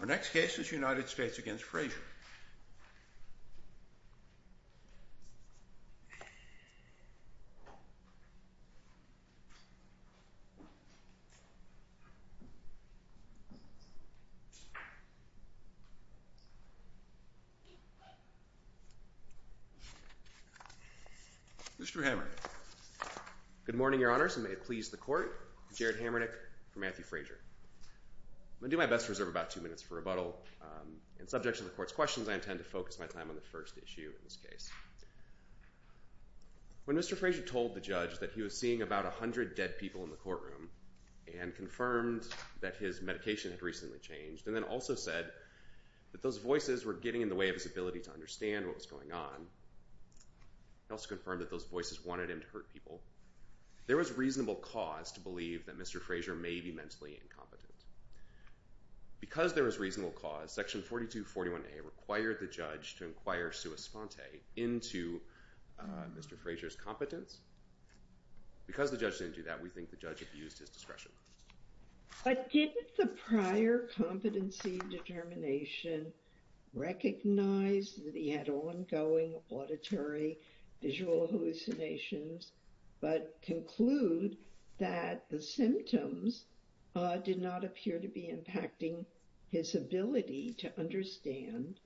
Our next case is United States v. Frazier Mr. Hamernick Good morning your honors and may it please the court Jared Hamernick v. Matthew Frazier I'm going to do my best to reserve about two minutes for rebuttal and subject to the court's questions I intend to focus my time on the first issue in this case When Mr. Frazier told the judge that he was seeing about 100 dead people in the courtroom and confirmed that his medication had recently changed and then also said that those voices were getting in the way of his ability to understand what was going on he also confirmed that those voices wanted him to hurt people There was reasonable cause to believe that Mr. Frazier may be mentally incompetent Because there was reasonable cause, section 4241A required the judge to inquire sua sponte into Mr. Frazier's competence Because the judge didn't do that, we think the judge abused his discretion But did the prior competency determination recognize that he had ongoing auditory visual hallucinations but conclude that the symptoms did not appear to be impacting his ability to understand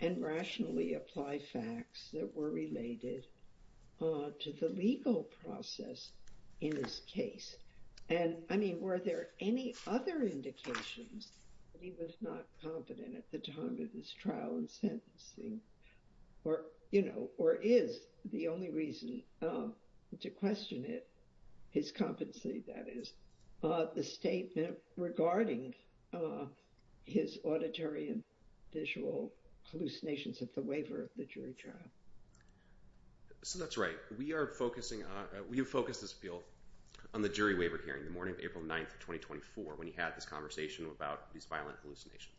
and rationally apply facts that were related to the legal process in this case and were there any other indications that he was not competent at the time of his trial and sentencing or is the only reason to question it, his competency that is the statement regarding his auditory and visual hallucinations at the waiver of the jury trial So that's right, we have focused this appeal on the jury waiver hearing the morning of April 9th, 2024, when he had this conversation about these violent hallucinations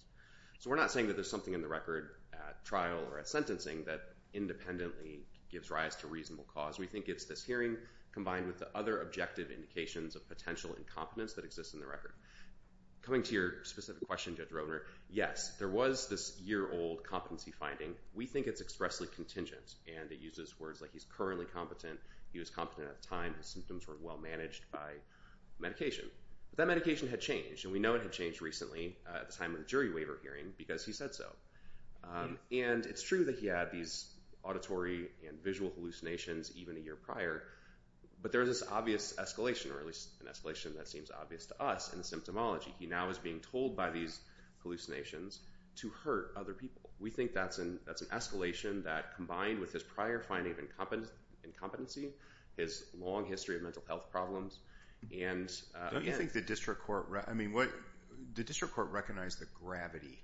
So we're not saying that there's something in the record at trial or at sentencing that independently gives rise to reasonable cause We think it's this hearing combined with the other objective indications of potential incompetence that exist in the record Coming to your specific question, Judge Roedner, yes, there was this year-old competency finding We think it's expressly contingent, and it uses words like he's currently competent he was competent at the time, his symptoms were well-managed by medication But that medication had changed, and we know it had changed recently at the time of the jury waiver hearing because he said so And it's true that he had these auditory and visual hallucinations even a year prior But there's this obvious escalation, or at least an escalation that seems obvious to us in the symptomology He now is being told by these hallucinations to hurt other people We think that's an escalation that combined with his prior finding of incompetency his long history of mental health problems Don't you think the district court recognized the gravity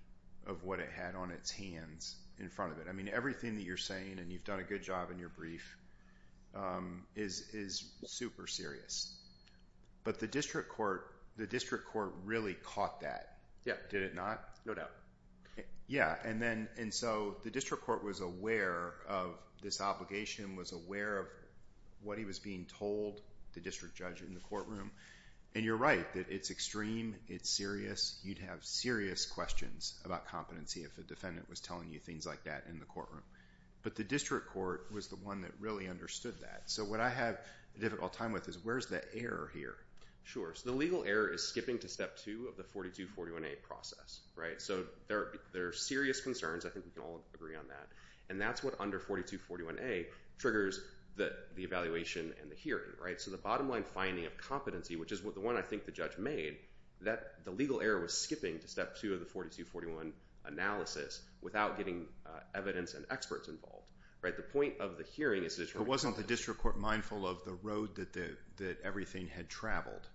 of what it had on its hands in front of it? I mean, everything that you're saying, and you've done a good job in your brief, is super serious But the district court really caught that, did it not? No doubt Yeah, and so the district court was aware of this obligation was aware of what he was being told, the district judge in the courtroom And you're right that it's extreme, it's serious You'd have serious questions about competency if a defendant was telling you things like that in the courtroom But the district court was the one that really understood that So what I have a difficult time with is where's the error here? Sure, so the legal error is skipping to step two of the 4241A process So there are serious concerns, I think we can all agree on that And that's what under 4241A triggers the evaluation and the hearing So the bottom line finding of competency, which is the one I think the judge made the legal error was skipping to step two of the 4241 analysis without getting evidence and experts involved But wasn't the district court mindful of the road that everything had traveled?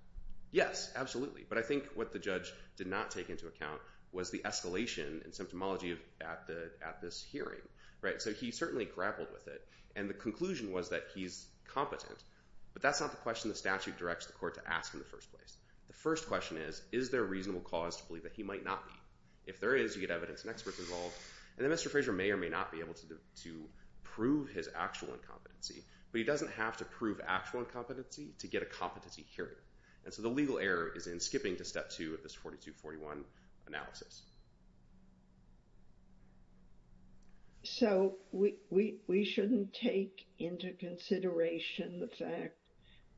Yes, absolutely, but I think what the judge did not take into account was the escalation and symptomology at this hearing So he certainly grappled with it, and the conclusion was that he's competent But that's not the question the statute directs the court to ask in the first place The first question is, is there a reasonable cause to believe that he might not be? If there is, you get evidence and experts involved And then Mr. Fraser may or may not be able to prove his actual incompetency But he doesn't have to prove actual incompetency to get a competency hearing And so the legal error is in skipping to step two of this 4241 analysis So we shouldn't take into consideration the fact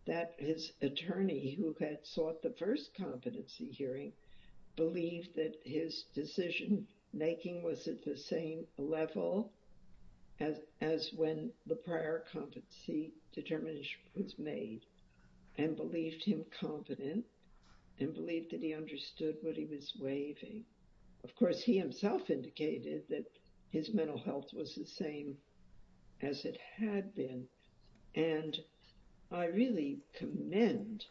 that his attorney who had sought the first competency hearing believed that his decision making was at the same level as when the prior competency determination was made and believed him competent and believed that he understood what he was waiving Of course, he himself indicated that his mental health was the same as it had been And I really commend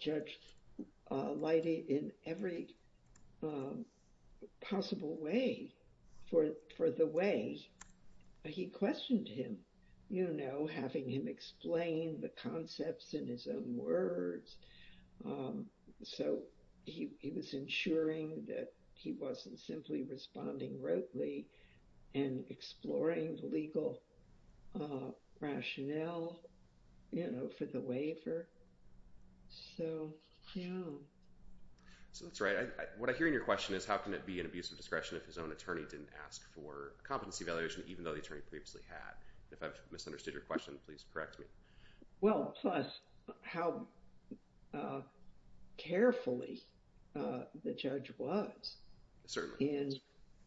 Judge Leidy in every possible way for the way he questioned him You know, having him explain the concepts in his own words So he was ensuring that he wasn't simply responding rotely and exploring legal rationale, you know, for the waiver So, yeah So that's right What I hear in your question is how can it be an abuse of discretion if his own attorney didn't ask for a competency evaluation even though the attorney previously had If I've misunderstood your question, please correct me Well, plus how carefully the judge was Certainly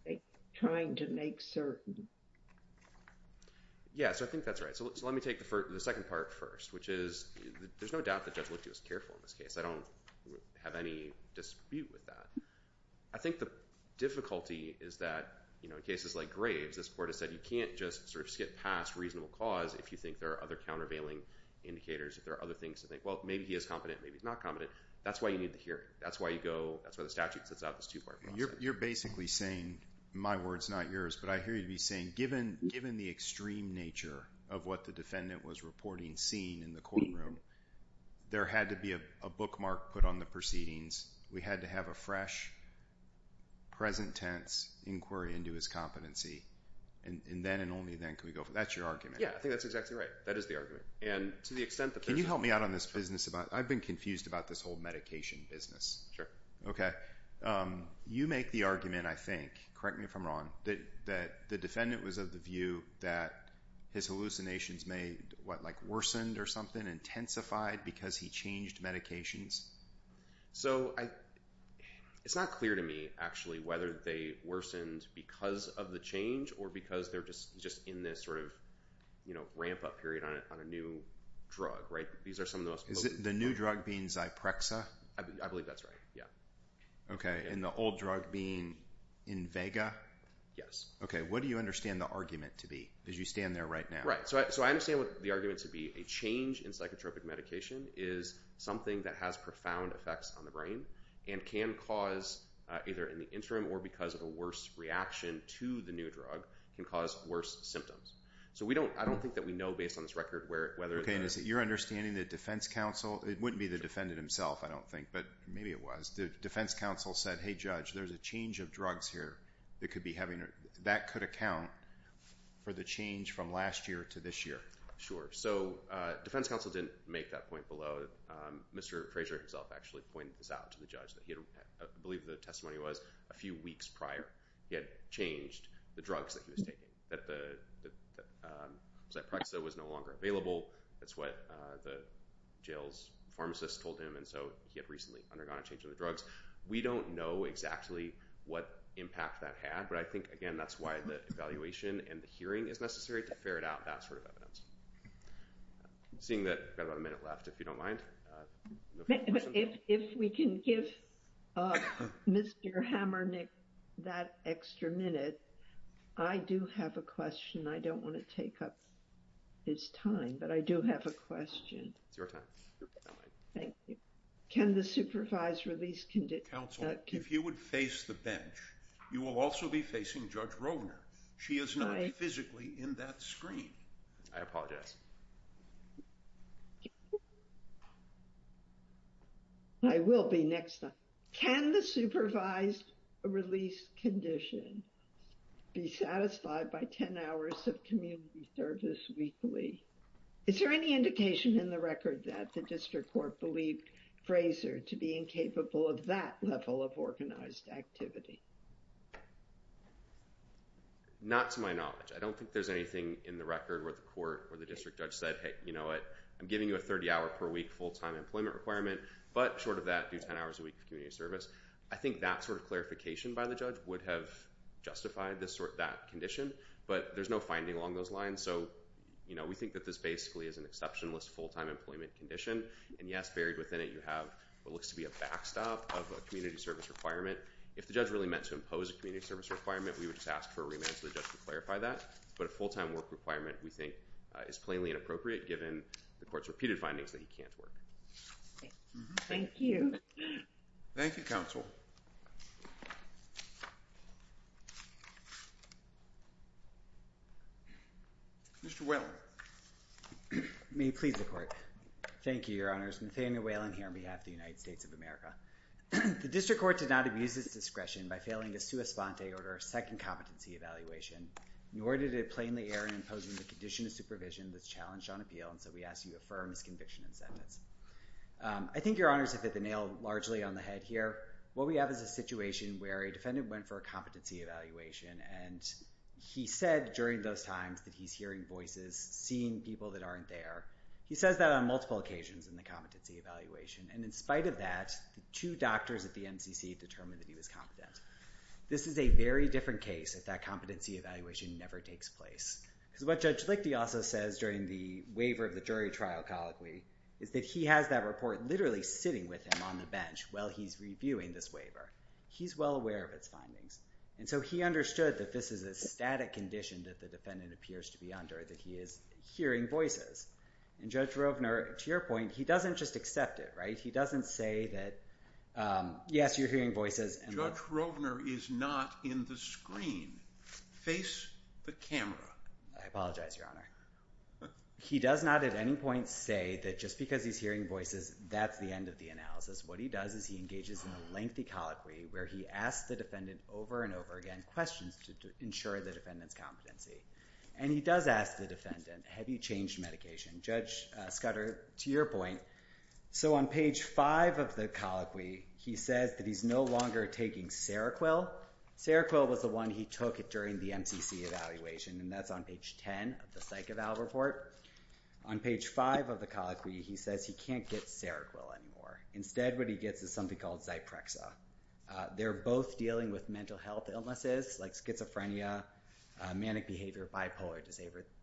in trying to make certain Yeah, so I think that's right So let me take the second part first which is there's no doubt that Judge Leidy was careful in this case I don't have any dispute with that I think the difficulty is that, you know, in cases like Graves this court has said you can't just sort of skip past reasonable cause if you think there are other countervailing indicators If there are other things to think Well, maybe he is competent, maybe he's not competent That's why you need to hear it That's why you go That's why the statute sets out this two-part process You're basically saying My words, not yours But I hear you be saying Given the extreme nature of what the defendant was reporting seeing in the courtroom there had to be a bookmark put on the proceedings We had to have a fresh, present tense inquiry into his competency And then and only then can we go That's your argument Yeah, I think that's exactly right That is the argument And to the extent that there's Can you help me out on this business about I've been confused about this whole medication business Sure Okay You make the argument, I think Correct me if I'm wrong that the defendant was of the view that his hallucinations may, what, like worsened or something intensified because he changed medications? So, I It's not clear to me, actually whether they worsened because of the change or because they're just in this sort of you know, ramp-up period on a new drug, right? These are some of the most Is it the new drug being Zyprexa? I believe that's right, yeah Okay, and the old drug being Invega? Yes Okay, what do you understand the argument to be? As you stand there right now Right, so I understand what the argument to be A change in psychotropic medication is something that has profound effects on the brain and can cause, either in the interim or because of a worse reaction to the new drug can cause worse symptoms So we don't, I don't think that we know based on this record whether Okay, and is it your understanding that defense counsel It wouldn't be the defendant himself, I don't think but maybe it was The defense counsel said Hey judge, there's a change of drugs here that could be having, that could account for the change from last year to this year Sure, so defense counsel didn't make that point below Mr. Fraser himself actually pointed this out to the judge that he had I believe the testimony was a few weeks prior He had changed the drugs that he was taking That the Zyprexa was no longer available That's what the jail's pharmacist told him and so he had recently undergone a change in the drugs We don't know exactly what impact that had but I think, again, that's why the evaluation and the hearing is necessary to ferret out that sort of evidence Seeing that we've got about a minute left if you don't mind If we can give Mr. Hammernick that extra minute I do have a question I don't want to take up his time but I do have a question It's your time Thank you Can the supervised release condition Counsel, if you would face the bench you will also be facing Judge Rovner She is not physically in that screen I apologize I will be next time Can the supervised release condition be satisfied by 10 hours of community service weekly? Is there any indication in the record that the district court believed Fraser to be incapable of that level of organized activity? Not to my knowledge I don't think there's anything in the record where the court or the district judge said Hey, you know what? I'm giving you a 30-hour per week full-time employment requirement but short of that do 10 hours a week of community service I think that sort of clarification by the judge would have justified that condition but there's no finding along those lines so we think that this basically is an exceptionless full-time employment condition and yes, buried within it you have what looks to be a backstop of a community service requirement If the judge really meant to impose a community service requirement we would just ask for a remand so the judge would clarify that but a full-time work requirement we think is plainly inappropriate given the court's repeated findings that he can't work Thank you Thank you, counsel Mr. Whalen May it please the court Thank you, your honors Nathaniel Whalen here on behalf of the United States of America The district court did not abuse its discretion by failing a sua sponte order second competency evaluation nor did it plainly err in imposing the condition of supervision that's challenged on appeal and so we ask you to affirm this conviction and sentence I think your honors have hit the nail largely on the head here what we have is a situation where a defendant went for a competency evaluation and he said during those times that he's hearing voices seeing people that aren't there he says that on multiple occasions in the competency evaluation and in spite of that the two doctors at the MCC determined that he was competent this is a very different case if that competency evaluation never takes place because what Judge Lichte also says during the waiver of the jury trial colloquy is that he has that report literally sitting with him on the bench while he's reviewing this waiver he's well aware of its findings and so he understood that this is a static condition that the defendant appears to be under that he is hearing voices and Judge Rovner to your point he doesn't just accept it, right he doesn't say that yes, you're hearing voices Judge Rovner is not in the screen face the camera I apologize, your honor he does not at any point say that just because he's hearing voices that's the end of the analysis what he does is he engages in a lengthy colloquy where he asks the defendant over and over again questions to ensure the defendant's competency and he does ask the defendant have you changed medication Judge Scudder, to your point so on page 5 of the colloquy he says that he's no longer taking Seroquil Seroquil was the one he took during the MCC evaluation and that's on page 10 of the psych eval report on page 5 of the colloquy he says he can't get Seroquil anymore instead what he gets is something called Zyprexa they're both dealing with mental health illnesses like schizophrenia manic behavior bipolar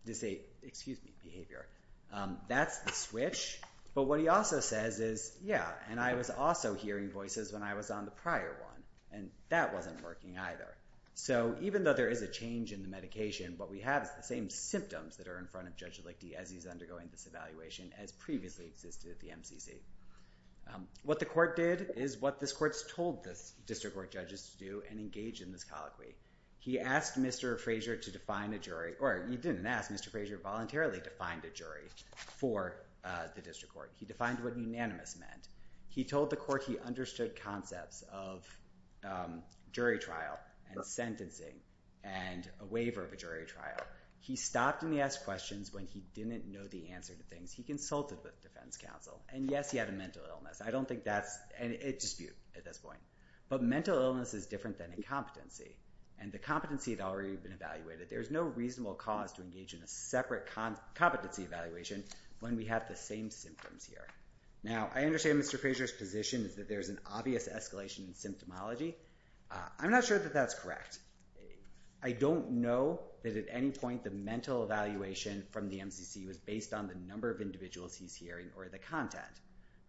disorder excuse me, behavior that's the switch but what he also says is yeah, and I was also hearing voices when I was on the prior one and that wasn't working either so even though there is a change in the medication what we have is the same symptoms that are in front of Judge Lichte as he's undergoing this evaluation as previously existed at the MCC what the court did is what this court's told the district court judges to do and engage in this colloquy he asked Mr. Frazier to define a jury or he didn't ask Mr. Frazier voluntarily to find a jury for the district court he defined what unanimous meant he told the court he understood concepts of jury trial and sentencing and a waiver of a jury trial he stopped and he asked questions when he didn't know the answer to things he consulted with defense counsel and yes he had a mental illness I don't think that's a dispute at this point but mental illness is different than incompetency and the competency had already been evaluated there's no reasonable cause to engage in a separate competency evaluation when we have the same symptoms here now I understand Mr. Frazier's position is that there's an obvious escalation in symptomology I'm not sure that that's correct I don't know that at any point the mental evaluation from the MCC was based on the number of individuals he's hearing or the content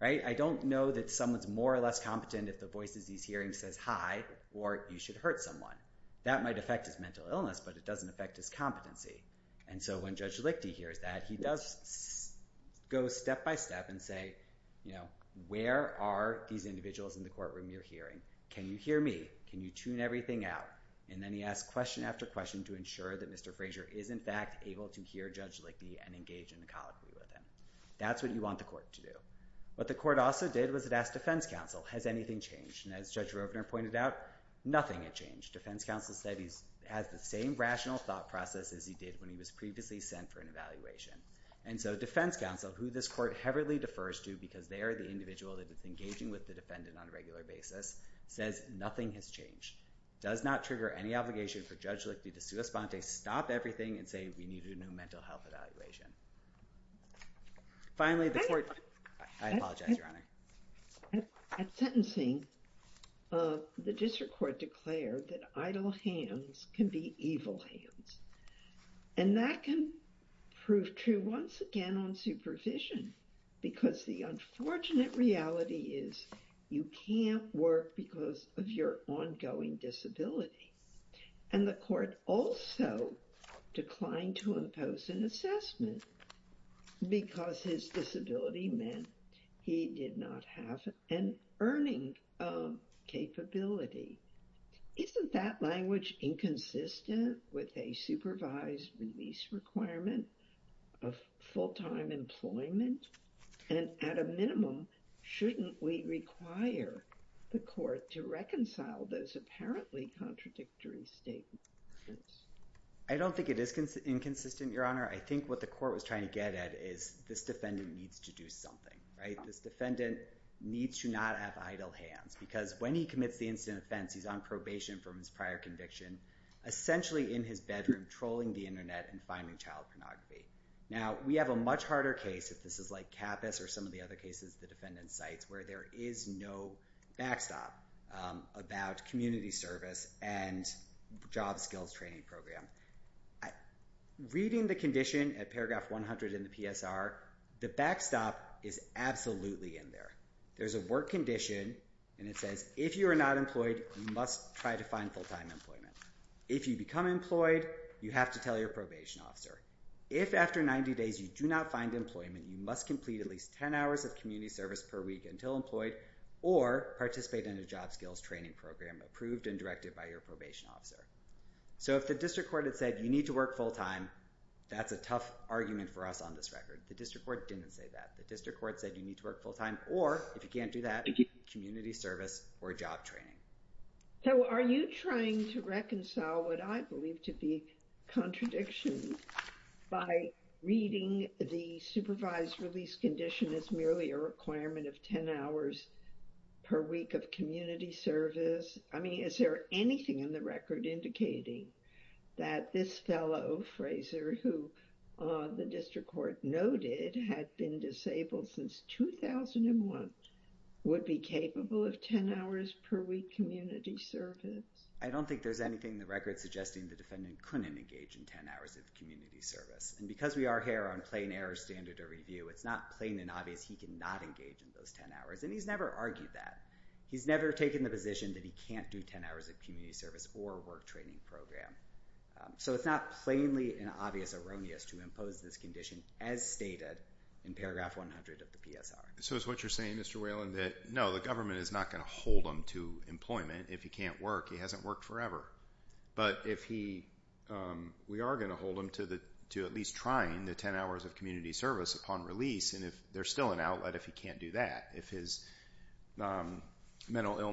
I don't know that someone's more or less competent if the voices he's hearing says hi or you should hurt someone that might affect his mental illness but it doesn't affect his competency and so when Judge Lichte hears that he does go step by step and say you know where are these individuals in the courtroom you're hearing can you hear me can you tune everything out and then he asks question after question to ensure that Mr. Frazier is in fact able to hear Judge Lichte and engage in a colloquy with him that's what you want the court to do what the court also did was it asked defense counsel has anything changed and as Judge Rovner pointed out nothing had changed defense counsel said he has the same rational thought process as he did when he was previously sent for an evaluation and so defense counsel who this court heavily defers to because they are the individual that is engaging with the defendant on a regular basis says nothing has changed does not trigger any obligation for Judge Lichte to sue a sponte stop everything and say we need a new mental health evaluation finally the court I apologize your honor at sentencing the district court declared that idle hands can be evil hands and so and that can prove true once again on supervision because the unfortunate reality is you can't work because of your ongoing disability and the court also declined to impose an because his disability meant he did not have an earning capability isn't that language inconsistent with a supervised release requirement of full-time employment and at a shouldn't we require the court to reconcile those apparently contradictory statements I don't think it is inconsistent your honor I think what the court was trying to get at is this defendant needs to do something right this needs to not have idle hands because when he commits the incident offense he is on probation from his prior conviction essentially in his bedroom trolling the and finding child pornography we have a much harder case where there is no backstop about community service and job skills training program reading the condition at paragraph 100 in the PSR the backstop is absolutely in there there is a work condition and it says if you are not employed you must try to full-time employment if you become employed you have to tell your probation officer if after 90 days you do not find employment you must complete at least 10 hours of community service per week until employed or participate in a job skills training program approved and directed by your probation officer so if the district court said you need to work full-time that's a tough argument for us on this record the district court didn't say that the district court said you need to work full-time or if you can't do that community service or job training so are you trying to reconcile what I believe to be a by reading the supervised release condition as merely a requirement of 10 hours per week of service I mean is there anything in the indicating that this fellow Frazer who the district court noted had been disabled since 2001 would be capable of 10 hours per week community service I don't think there's anything in suggesting the defendant couldn't engage in 10 hours of community service because we are here on plain error standard it's not plain and he can't engage in 10 hours of because he can't engage in 10 hours of community service because we are here he can't engage in 10 hours of community service we are here on plain error standard of et if he unable to the condition this condition full time because he needs to pro social behavior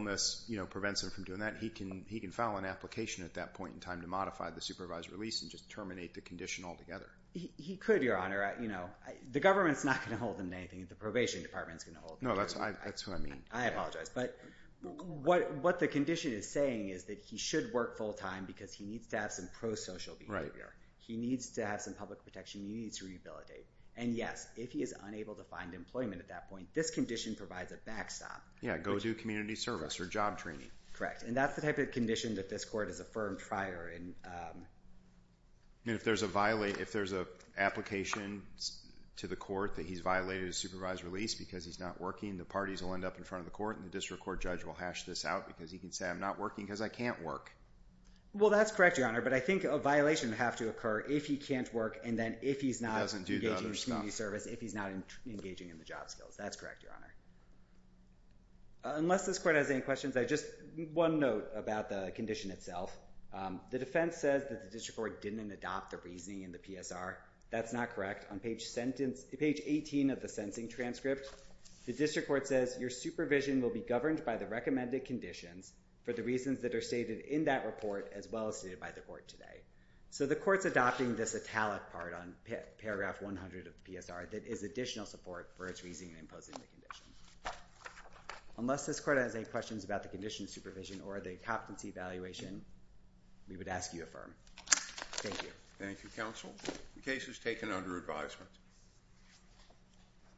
and yes if he is unable to find employment this condition provides a back stop and that's the type of this court has to do think a violation would have to occur if he can't work and if he's not engaging in the job skills. That's correct. Unless this court has any questions, one note about the condition itself. The defense says the district court says your supervision will be governed by the recommended conditions for the reasons stated in that report as well as the court today. So the court is adopting this italic part that is additional support. Unless this court has any about the possibility...